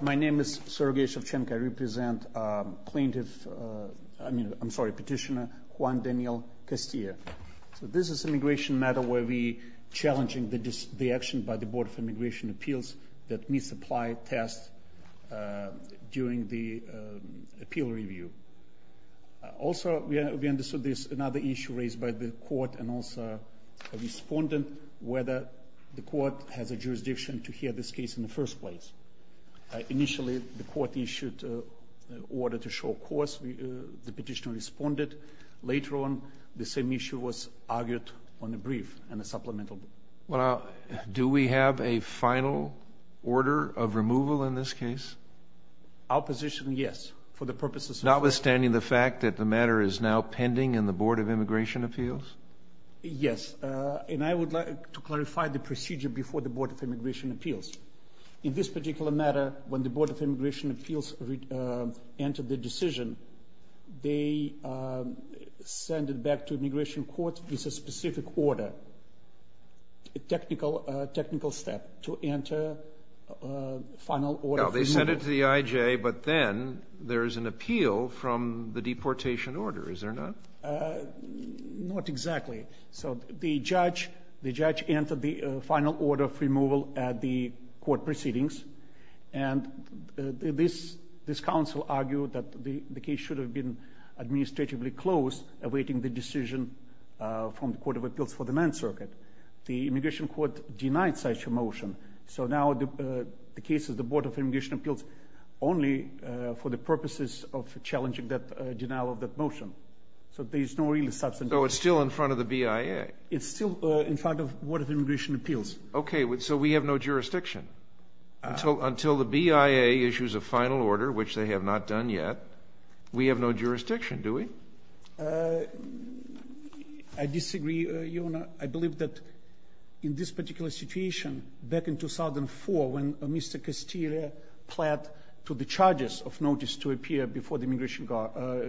My name is Sergei Shevchenko. I represent Petitioner Juan Daniel Castillo. This is an immigration matter where we are challenging the action by the Board of Immigration Appeals that misapplied tests during the appeal review. Also, we understood there is another issue raised by the court and also a respondent whether the court has a jurisdiction to hear this case in the first place. Initially, the court issued an order to show cause. The petitioner responded. Later on, the same issue was argued on a brief and a supplemental. Do we have a final order of removal in this case? Our position is yes. Notwithstanding the fact that the matter is now pending in the Board of Immigration Appeals? Yes, and I would like to clarify the procedure before the Board of Immigration Appeals. In this particular matter, when the Board of Immigration Appeals entered the decision, they sent it back to the immigration court with a specific order. A technical step to enter a final order of removal. They sent it to the IJ, but then there is an appeal from the deportation order, is there not? Not exactly. The judge entered the final order of removal at the court proceedings. This counsel argued that the case should have been administratively closed awaiting the decision from the Court of Appeals for the Ninth Circuit. The immigration court denied such a motion, so now the case is the Board of Immigration Appeals only for the purposes of challenging the denial of that motion. So it's still in front of the BIA. It's still in front of the Board of Immigration Appeals. Okay, so we have no jurisdiction. Until the BIA issues a final order, which they have not done yet, we have no jurisdiction, do we? I disagree, Your Honor. I believe that in this particular situation, back in 2004, when Mr. Castillo pled to the charges of notice to appear before the immigration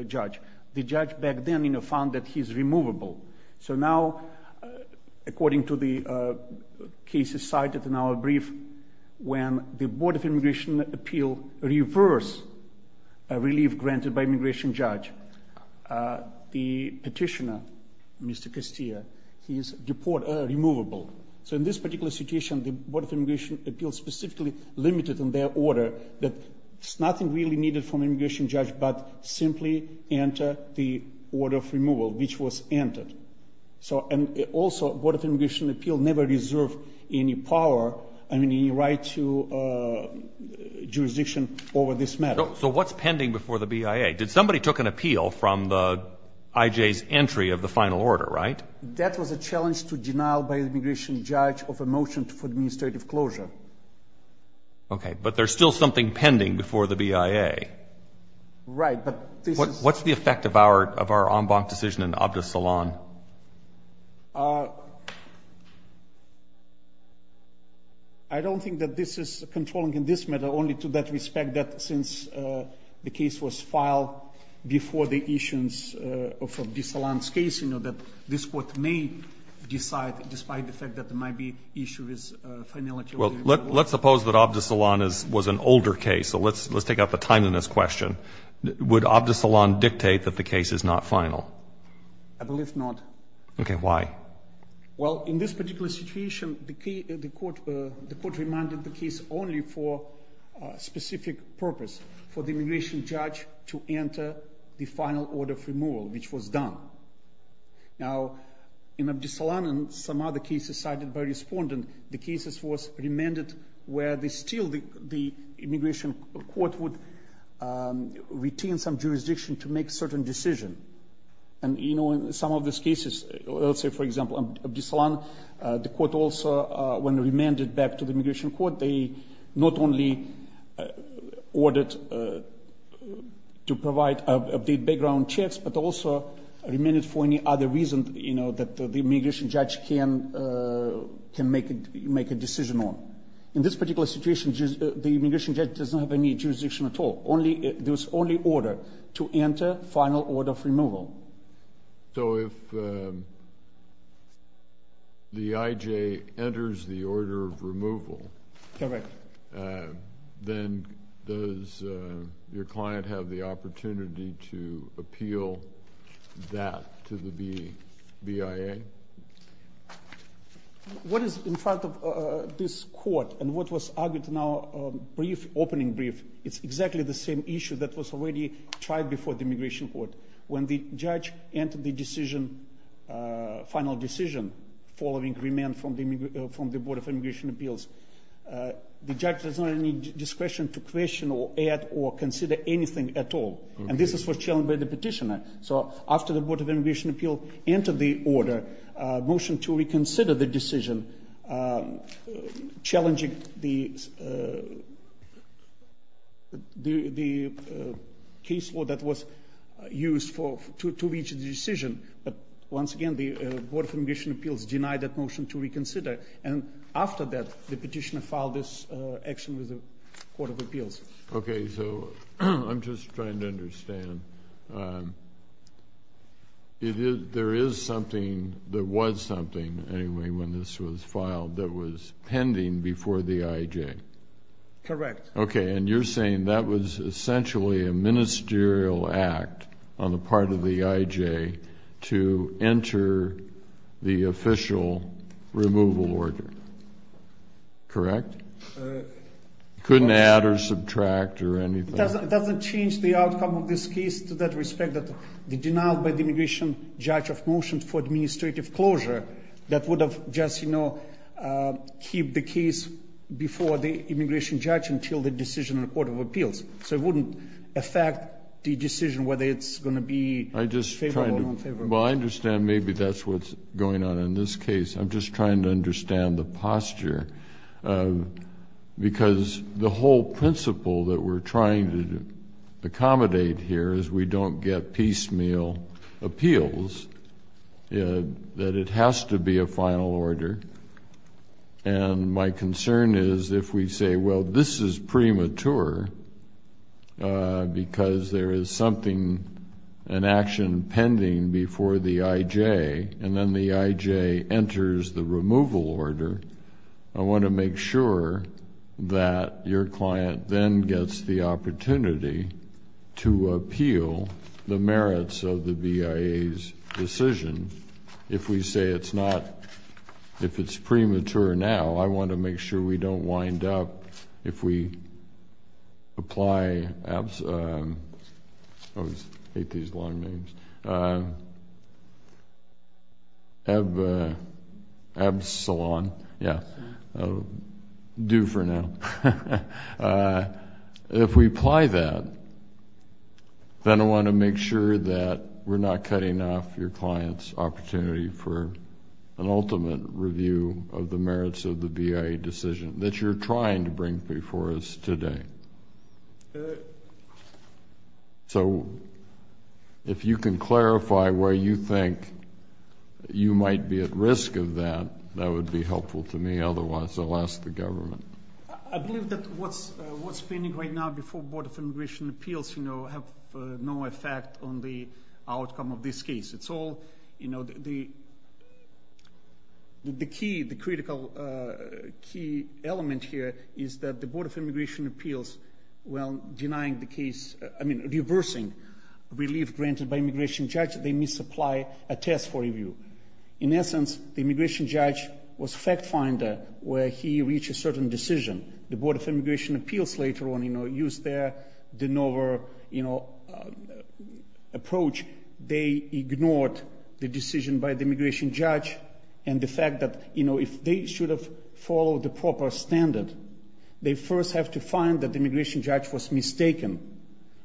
judge, the judge back then found that he is removable. So now, according to the cases cited in our brief, when the Board of Immigration Appeals reversed a relief granted by the immigration judge, the petitioner, Mr. Castillo, he is removable. So in this particular situation, the Board of Immigration Appeals specifically limited in their order that there's nothing really needed from the immigration judge but simply enter the order of removal, which was entered. So, and also, the Board of Immigration Appeals never reserved any power, I mean, any right to jurisdiction over this matter. So what's pending before the BIA? Did somebody took an appeal from the IJ's entry of the final order, right? That was a challenge to denial by the immigration judge of a motion for administrative closure. Okay, but there's still something pending before the BIA. Right, but this is... What's the effect of our en banc decision in Abdus Salaam? I don't think that this is controlling in this matter, only to that respect that since the case was filed before the issuance of Abdus Salaam's case, you know, that this court may decide, despite the fact that there might be issue with finality... Well, let's suppose that Abdus Salaam was an older case. So let's take out the time in this question. Would Abdus Salaam dictate that the case is not final? I believe not. Okay, why? Well, in this particular situation, the court reminded the case only for specific purpose, for the immigration judge to enter the final order of removal, which was done. Now, in Abdus Salaam and some other cases cited by respondent, the cases was remanded where still the immigration court would retain some jurisdiction to make certain decision. And, you know, in some of these cases, let's say, for example, Abdus Salaam, the court also, when remanded back to the immigration court, they not only ordered to provide background checks, but also remanded for any other reason, you know, that the immigration judge can make a decision on. In this particular situation, the immigration judge doesn't have any jurisdiction at all. There's only order to enter final order of removal. So if the IJ enters the order of removal, then does your client have the opportunity to appeal that to the BIA? What is in front of this court and what was argued in our brief, opening brief, it's exactly the same issue that was already tried before the immigration court. When the judge entered the decision, final decision, following remand from the Board of Immigration Appeals, the judge does not have any discretion to question or add or consider anything at all. And this is what's challenged by the petitioner. So after the Board of Immigration Appeals entered the order, motion to reconsider the decision, challenging the case law that was used to reach the decision. But once again, the Board of Immigration Appeals denied that motion to reconsider. And after that, the petitioner filed this action with the Court of Appeals. Okay, so I'm just trying to understand. There is something that was something anyway when this was filed that was pending before the IJ. Correct. Okay, and you're saying that was essentially a ministerial act on the part of the IJ to enter the official removal order. Correct? Couldn't add or subtract or anything. It doesn't change the outcome of this case to that respect that the denial by the immigration judge of motion for administrative closure, that would have just, you know, keep the case before the immigration judge until the decision in the Court of Appeals. So it wouldn't affect the decision whether it's going to be favorable or unfavorable. Well, I understand maybe that's what's going on in this case. I'm just trying to understand the posture. Because the whole principle that we're trying to accommodate here is we don't get piecemeal appeals, that it has to be a final order. And my concern is if we say, well, this is premature because there is something, an action pending before the IJ, and then the IJ enters the removal order, I want to make sure that your client then gets the opportunity to appeal the merits of the BIA's decision. And if we say it's not, if it's premature now, I want to make sure we don't wind up, if we apply, I hate these long names, EBSALON, yeah, due for now. If we apply that, then I want to make sure that we're not cutting off your client's opportunity for an ultimate review of the merits of the BIA decision that you're trying to bring before us today. So if you can clarify where you think you might be at risk of that, that would be helpful to me. Otherwise, I'll ask the government. I believe that what's pending right now before Board of Immigration Appeals have no effect on the outcome of this case. It's all, you know, the key, the critical key element here is that the Board of Immigration Appeals, while denying the case, I mean, reversing relief granted by immigration judge, they misapply a test for review. In essence, the immigration judge was fact finder where he reached a certain decision. The Board of Immigration Appeals later on, you know, used their de novo, you know, approach. They ignored the decision by the immigration judge and the fact that, you know, if they should have followed the proper standard, they first have to find that the immigration judge was mistaken.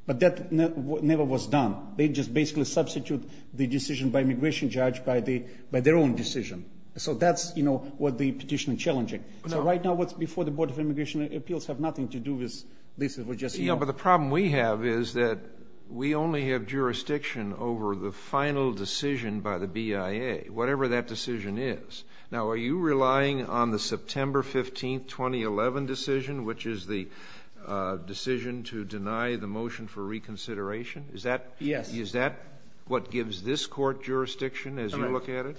But that never was done. They just basically substituted the decision by immigration judge by their own decision. So that's, you know, what the petition is challenging. Right now, what's before the Board of Immigration Appeals have nothing to do with this. But the problem we have is that we only have jurisdiction over the final decision by the BIA, whatever that decision is. Now, are you relying on the September 15, 2011 decision, which is the decision to deny the motion for reconsideration? Is that what gives this court jurisdiction as you look at it?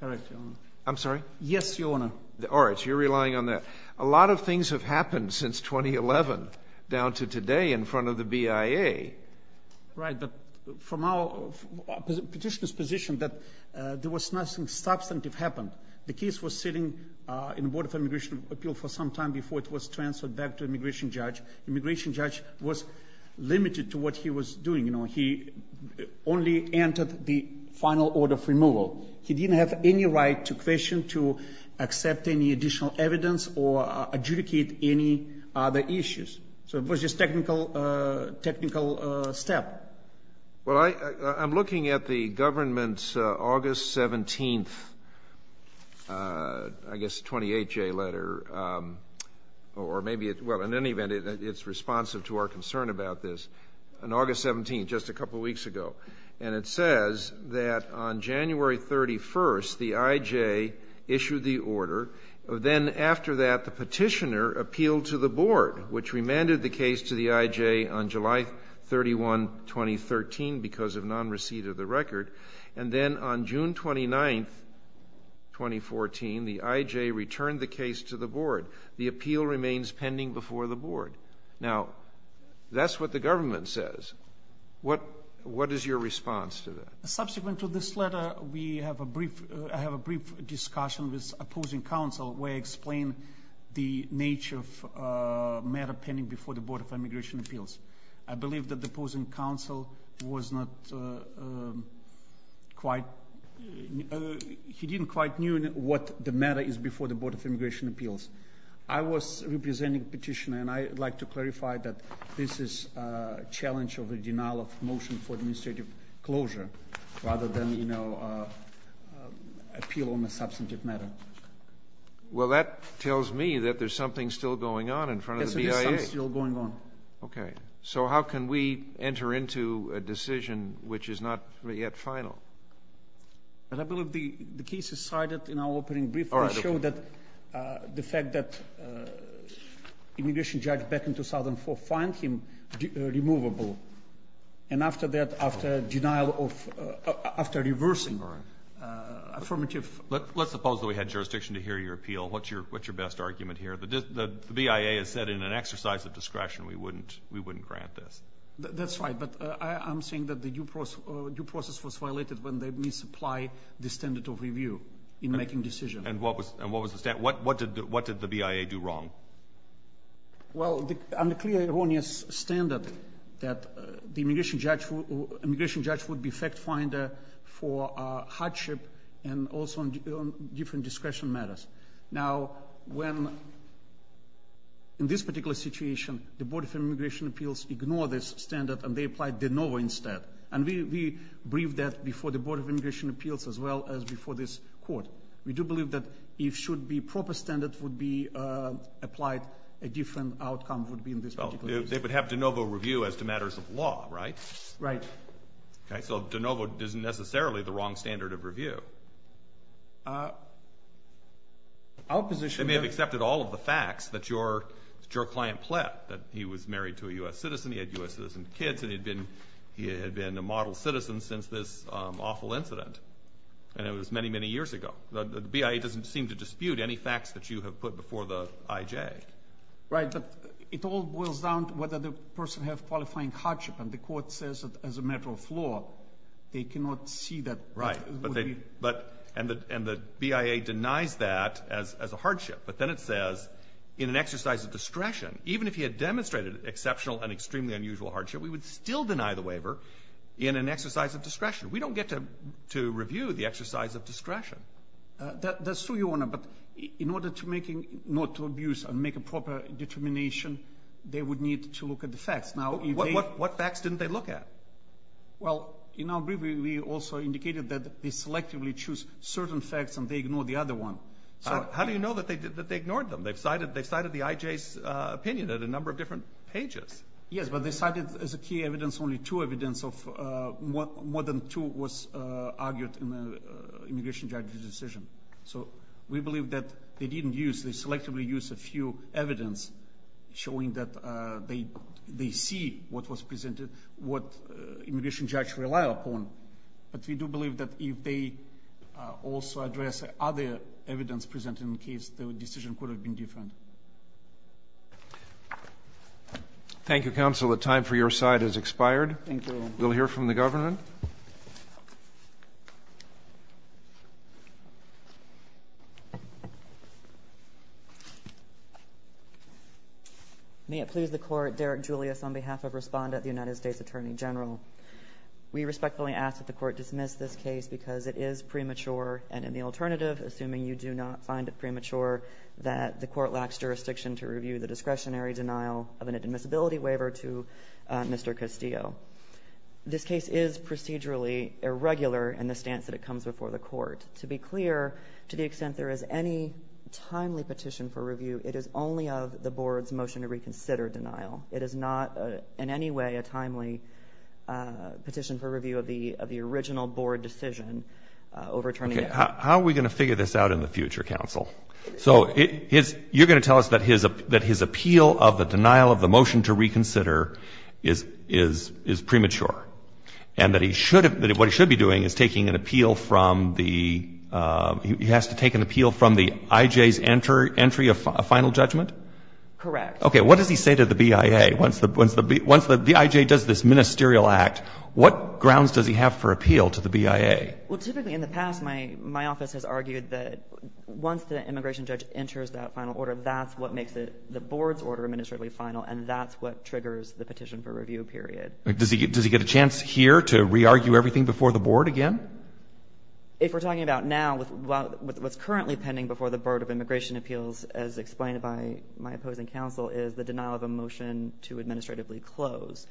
Correct, Your Honor. I'm sorry? Yes, Your Honor. All right, so you're relying on that. A lot of things have happened since 2011 down to today in front of the BIA. Right, but from our petitioner's position that there was nothing substantive happened. The case was sitting in the Board of Immigration Appeals for some time before it was transferred back to immigration judge. Immigration judge was limited to what he was doing. So he didn't have any right to question, to accept any additional evidence or adjudicate any other issues. So it was just technical step. Well, I'm looking at the government's August 17th, I guess, 28-J letter, or maybe it's responsive to our concern about this, on August 17th, just a couple weeks ago, and it says that on January 31st, the I.J. issued the order. Then after that, the petitioner appealed to the board, which remanded the case to the I.J. on July 31, 2013, because of non-receipt of the record. And then on June 29th, 2014, the I.J. returned the case to the board. The appeal remains pending before the board. Now, that's what the government says. What is your response to that? Subsequent to this letter, I have a brief discussion with opposing counsel, where I explain the nature of matter pending before the Board of Immigration Appeals. I believe that the opposing counsel was not quite – he didn't quite know what the matter is before the Board of Immigration Appeals. I was representing the petitioner, and I would like to clarify that this is a challenge of a denial of motion for administrative closure, rather than, you know, appeal on a substantive matter. Well, that tells me that there's something still going on in front of the BIA. Yes, there is something still going on. Okay. So how can we enter into a decision which is not yet final? I believe the case is cited in our opening brief. It showed that the fact that immigration judge back in 2004 find him removable. And after that, after denial of – after reversing affirmative – Let's suppose that we had jurisdiction to hear your appeal. What's your best argument here? The BIA has said in an exercise of discretion we wouldn't grant this. That's right, but I'm saying that the due process was violated when they misapply the standard of review in making decisions. And what was the – what did the BIA do wrong? Well, on the clear, erroneous standard that the immigration judge would be fact finder for hardship and also on different discretion matters. Now, when – in this particular situation, the Board of Immigration Appeals ignored this standard and they applied de novo instead. And we briefed that before the Board of Immigration Appeals as well as before this court. We do believe that if should be proper standard would be applied, a different outcome would be in this particular case. Well, they would have de novo review as to matters of law, right? Right. Okay, so de novo isn't necessarily the wrong standard of review. Our position – They may have accepted all of the facts that your client pled, that he was married to a U.S. citizen, he had U.S. citizen kids, and he had been a model citizen since this awful incident. And it was many, many years ago. The BIA doesn't seem to dispute any facts that you have put before the IJ. Right, but it all boils down to whether the person has qualifying hardship. And the court says that as a matter of law, they cannot see that. Right, but they – and the BIA denies that as a hardship. But then it says in an exercise of discretion, even if he had demonstrated exceptional and extremely unusual hardship, we would still deny the waiver in an exercise of discretion. We don't get to review the exercise of discretion. That's true, Your Honor, but in order to make – not to abuse and make a proper determination, they would need to look at the facts. What facts didn't they look at? Well, in our review, we also indicated that they selectively choose certain facts and they ignore the other one. How do you know that they ignored them? They cited the IJ's opinion at a number of different pages. Yes, but they cited as a key evidence only two evidence of – more than two was argued in the immigration judge's decision. So we believe that they didn't use – they selectively used a few evidence showing that they see what was presented, what immigration judge rely upon. But we do believe that if they also address other evidence presented in the case, the decision could have been different. Thank you, counsel. The time for your side has expired. Thank you. We'll hear from the government. May it please the Court, Derek Julius on behalf of Respondent, the United States Attorney General. We respectfully ask that the Court dismiss this case because it is premature and in the alternative, assuming you do not find it premature, that the Court lacks jurisdiction to review the discretionary denial of an admissibility waiver to Mr. Castillo. This case is procedurally irregular in the stance that it comes before the Court. To be clear, to the extent there is any timely petition for review, it is only of the Board's motion to reconsider denial. It is not in any way a timely petition for review of the original Board decision overturning it. How are we going to figure this out in the future, counsel? So you're going to tell us that his appeal of the denial of the motion to reconsider is premature, and that what he should be doing is taking an appeal from the — he has to take an appeal from the I.J.'s entry of final judgment? Correct. Okay. What does he say to the BIA? Once the I.J. does this ministerial act, what grounds does he have for appeal to the BIA? Well, typically in the past, my office has argued that once the immigration judge enters that final order, that's what makes the Board's order administratively final, and that's what triggers the petition for review period. Does he get a chance here to re-argue everything before the Board again? If we're talking about now, what's currently pending before the Board of Immigration Appeals, as explained by my opposing counsel, is the denial of a motion to administratively close.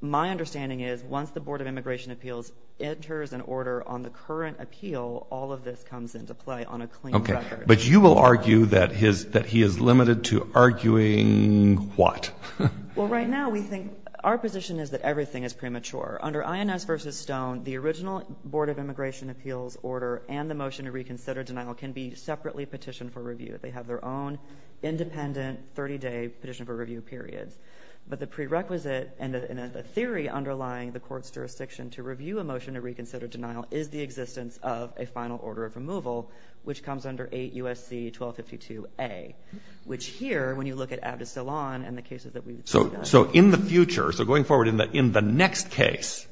My understanding is once the Board of Immigration Appeals enters an order on the current appeal, all of this comes into play on a clean record. Okay. But you will argue that he is limited to arguing what? Well, right now we think our position is that everything is premature. Under INS v. Stone, the original Board of Immigration Appeals order and the motion to reconsider denial can be separately petitioned for review. They have their own independent 30-day petition for review period. But the prerequisite and the theory underlying the court's jurisdiction to review a motion to reconsider denial is the existence of a final order of removal, which comes under 8 U.S.C. 1252A, which here, when you look at Abdus Salaam and the cases that we've done. So in the future, so going forward, in the next case,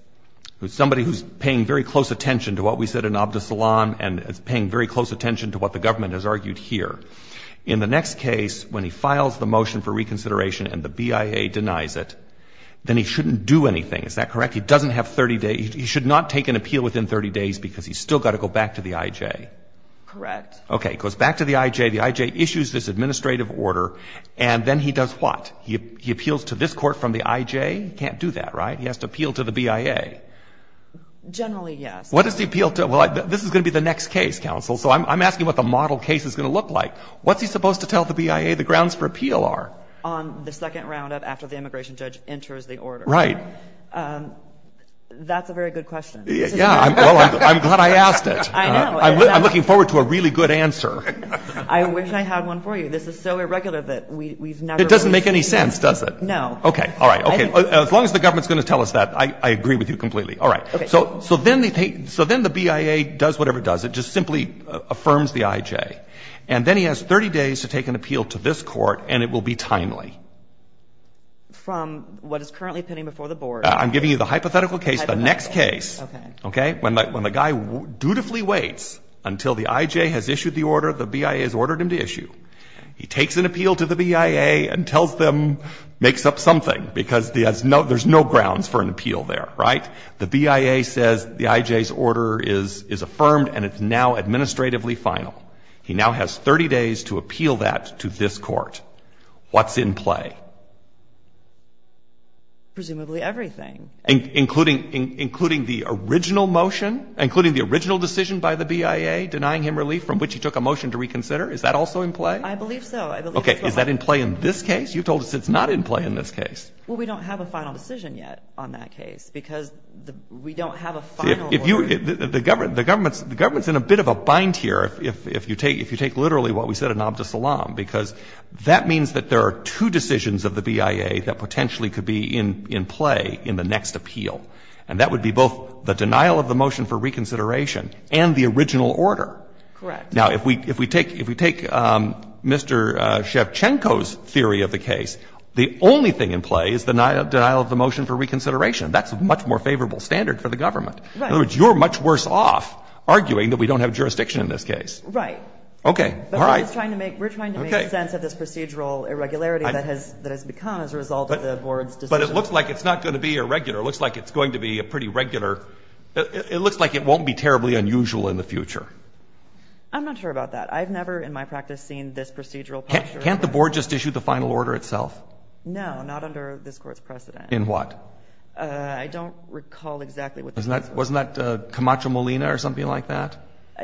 somebody who's paying very close attention to what we said in Abdus Salaam and is paying very close attention to what the government has argued here, in the next case, when he files the motion for reconsideration and the BIA denies it, then he shouldn't do anything. Is that correct? He doesn't have 30 days. He should not take an appeal within 30 days because he's still got to go back to the I.J. Correct. Okay. Goes back to the I.J. The I.J. issues this administrative order, and then he does what? He appeals to this court from the I.J.? He can't do that, right? He has to appeal to the BIA. Generally, yes. What does he appeal to? Well, this is going to be the next case, counsel. So I'm asking what the model case is going to look like. What's he supposed to tell the BIA the grounds for appeal are? On the second round of after the immigration judge enters the order. Right. That's a very good question. Yeah. Well, I'm glad I asked it. I know. I'm looking forward to a really good answer. I wish I had one for you. This is so irregular that we've never really seen it. It doesn't make any sense, does it? No. Okay. All right. Okay. As long as the government is going to tell us that, I agree with you completely. All right. So then the BIA does whatever it does. It just simply affirms the IJ. And then he has 30 days to take an appeal to this Court, and it will be timely. From what is currently pending before the Board. I'm giving you the hypothetical case, the next case. Okay. When the guy dutifully waits until the IJ has issued the order the BIA has ordered him to issue, he takes an appeal to the BIA and tells them, makes up something, because there's no grounds for an appeal there. Right? The BIA says the IJ's order is affirmed and it's now administratively final. He now has 30 days to appeal that to this Court. What's in play? Presumably everything. Including the original motion? Including the original decision by the BIA denying him relief from which he took a motion to reconsider? Is that also in play? I believe so. Okay. Is that in play in this case? You told us it's not in play in this case. Well, we don't have a final decision yet on that case, because we don't have a final order. If you – the Government's in a bit of a bind here if you take literally what we said in Abdus Salaam, because that means that there are two decisions of the BIA that potentially could be in play in the next appeal, and that would be both the denial of the motion for reconsideration and the original order. Correct. Now, if we take Mr. Shevchenko's theory of the case, the only thing in play is that denial of the motion for reconsideration. That's a much more favorable standard for the Government. Right. In other words, you're much worse off arguing that we don't have jurisdiction in this case. Right. Okay. All right. We're trying to make sense of this procedural irregularity that has become as a result of the Board's decision. But it looks like it's not going to be irregular. It looks like it's going to be a pretty regular – it looks like it won't be terribly unusual in the future. I'm not sure about that. I've never in my practice seen this procedural picture. Can't the Board just issue the final order itself? No, not under this Court's precedent. In what? I don't recall exactly what this is. Wasn't that Camacho-Molina or something like that?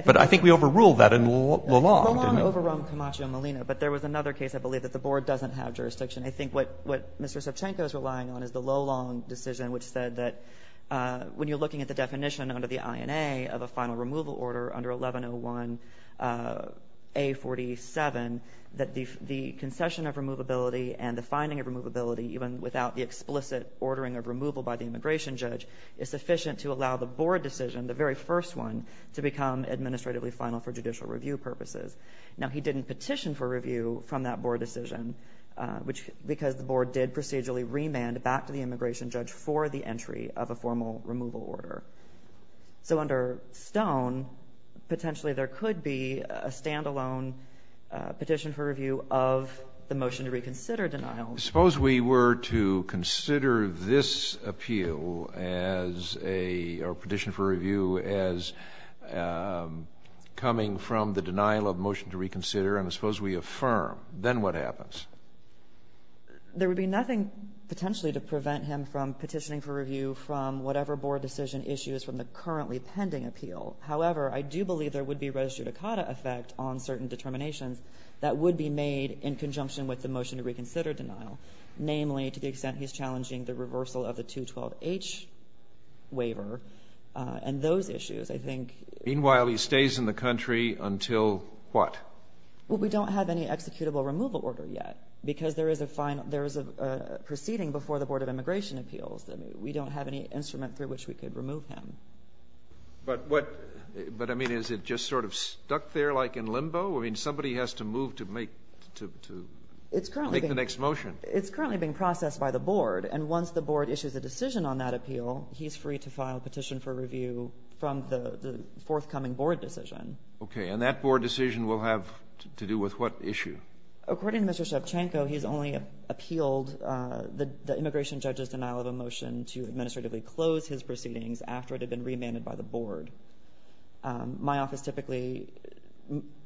But I think we overruled that in Lolong. Lolong overrun Camacho-Molina, but there was another case, I believe, that the Board doesn't have jurisdiction. I think what Mr. Shevchenko is relying on is the Lolong decision, which said that when you're looking at the definition under the INA of a final removal order under 1101A47, that the concession of removability and the finding of removability, even without the explicit ordering of removal by the immigration judge, is sufficient to allow the Board decision, the very first one, to become administratively final for judicial review purposes. Now, he didn't petition for review from that Board decision, because the Board did procedurally remand back to the immigration judge for the entry of a formal removal order. So under Stone, potentially there could be a stand-alone petition for review of the motion to reconsider denial. Suppose we were to consider this appeal as a petition for review as coming from the denial of motion to reconsider, and suppose we affirm. Then what happens? There would be nothing potentially to prevent him from petitioning for review from whatever Board decision issues from the currently pending appeal. However, I do believe there would be a res judicata effect on certain determinations that would be made in conjunction with the motion to reconsider denial. Namely, to the extent he's challenging the reversal of the 212H waiver and those issues, I think. Meanwhile, he stays in the country until what? Well, we don't have any executable removal order yet, because there is a proceeding before the Board of Immigration Appeals. We don't have any instrument through which we could remove him. But what — but, I mean, is it just sort of stuck there like in limbo? I mean, somebody has to move to make the next motion. It's currently being processed by the Board. And once the Board issues a decision on that appeal, he's free to file a petition for review from the forthcoming Board decision. Okay. And that Board decision will have to do with what issue? According to Mr. Shevchenko, he has only appealed the immigration judge's denial of a motion to administratively close his proceedings after it had been remanded by the Board. My office typically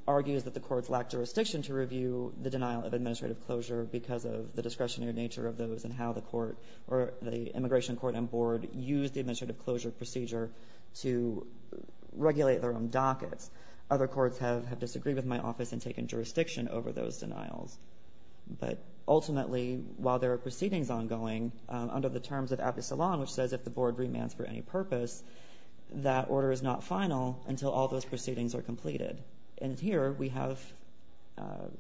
argues that the courts lack jurisdiction to review the denial of administrative closure because of the discretionary nature of those and how the court — or the immigration court and board use the administrative closure procedure to regulate their own dockets. Other courts have disagreed with my office and taken jurisdiction over those denials. But ultimately, while there are proceedings ongoing, under the terms of Abbe Salon, which says if the Board remands for any purpose, that order is not final until all those proceedings are completed. And here we have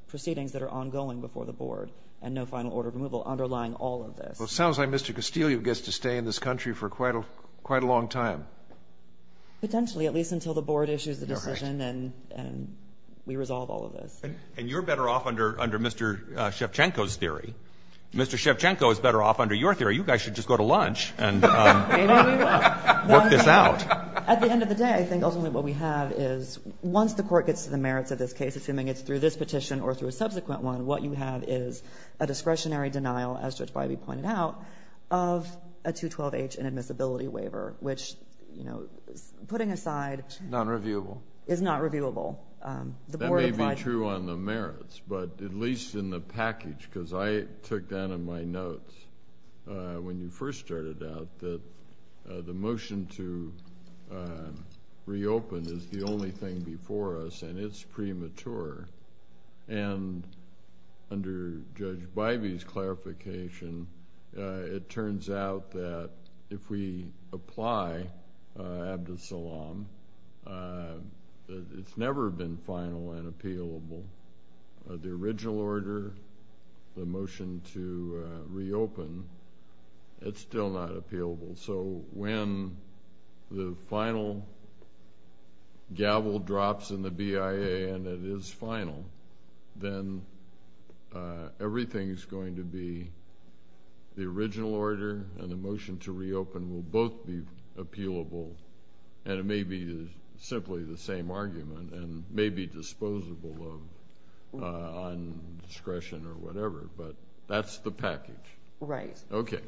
proceedings that are ongoing before the Board and no final order of removal underlying all of this. Well, it sounds like Mr. Castillo gets to stay in this country for quite a long time. Potentially, at least until the Board issues the decision and we resolve all of this. And you're better off under Mr. Shevchenko's theory. Mr. Shevchenko is better off under your theory. You guys should just go to lunch and work this out. At the end of the day, I think ultimately what we have is once the court gets to the merits of this case, assuming it's through this petition or through a subsequent one, what you have is a discretionary denial, as Judge Bybee pointed out, of a 212H inadmissibility waiver, which, putting aside... Nonreviewable. ...is not reviewable. That may be true on the merits, but at least in the package, because I took that in my notes when you first started out, that the motion to reopen is the only thing before us and it's premature. And under Judge Bybee's clarification, it turns out that if we apply Abdus Salaam, it's never been final and appealable. The original order, the motion to reopen, it's still not appealable. And so when the final gavel drops in the BIA and it is final, then everything is going to be the original order and the motion to reopen will both be appealable and it may be simply the same argument and may be disposable on discretion or whatever. But that's the package. Right. Okay.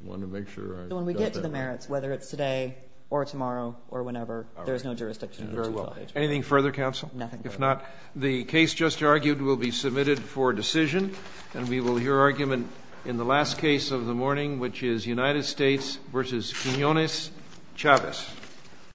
When we get to the merits, whether it's today or tomorrow or whenever, there's no jurisdiction. Very well. Anything further, counsel? Nothing further. If not, the case just argued will be submitted for decision and we will hear argument in the last case of the morning, which is United States v. Quinones-Chavez.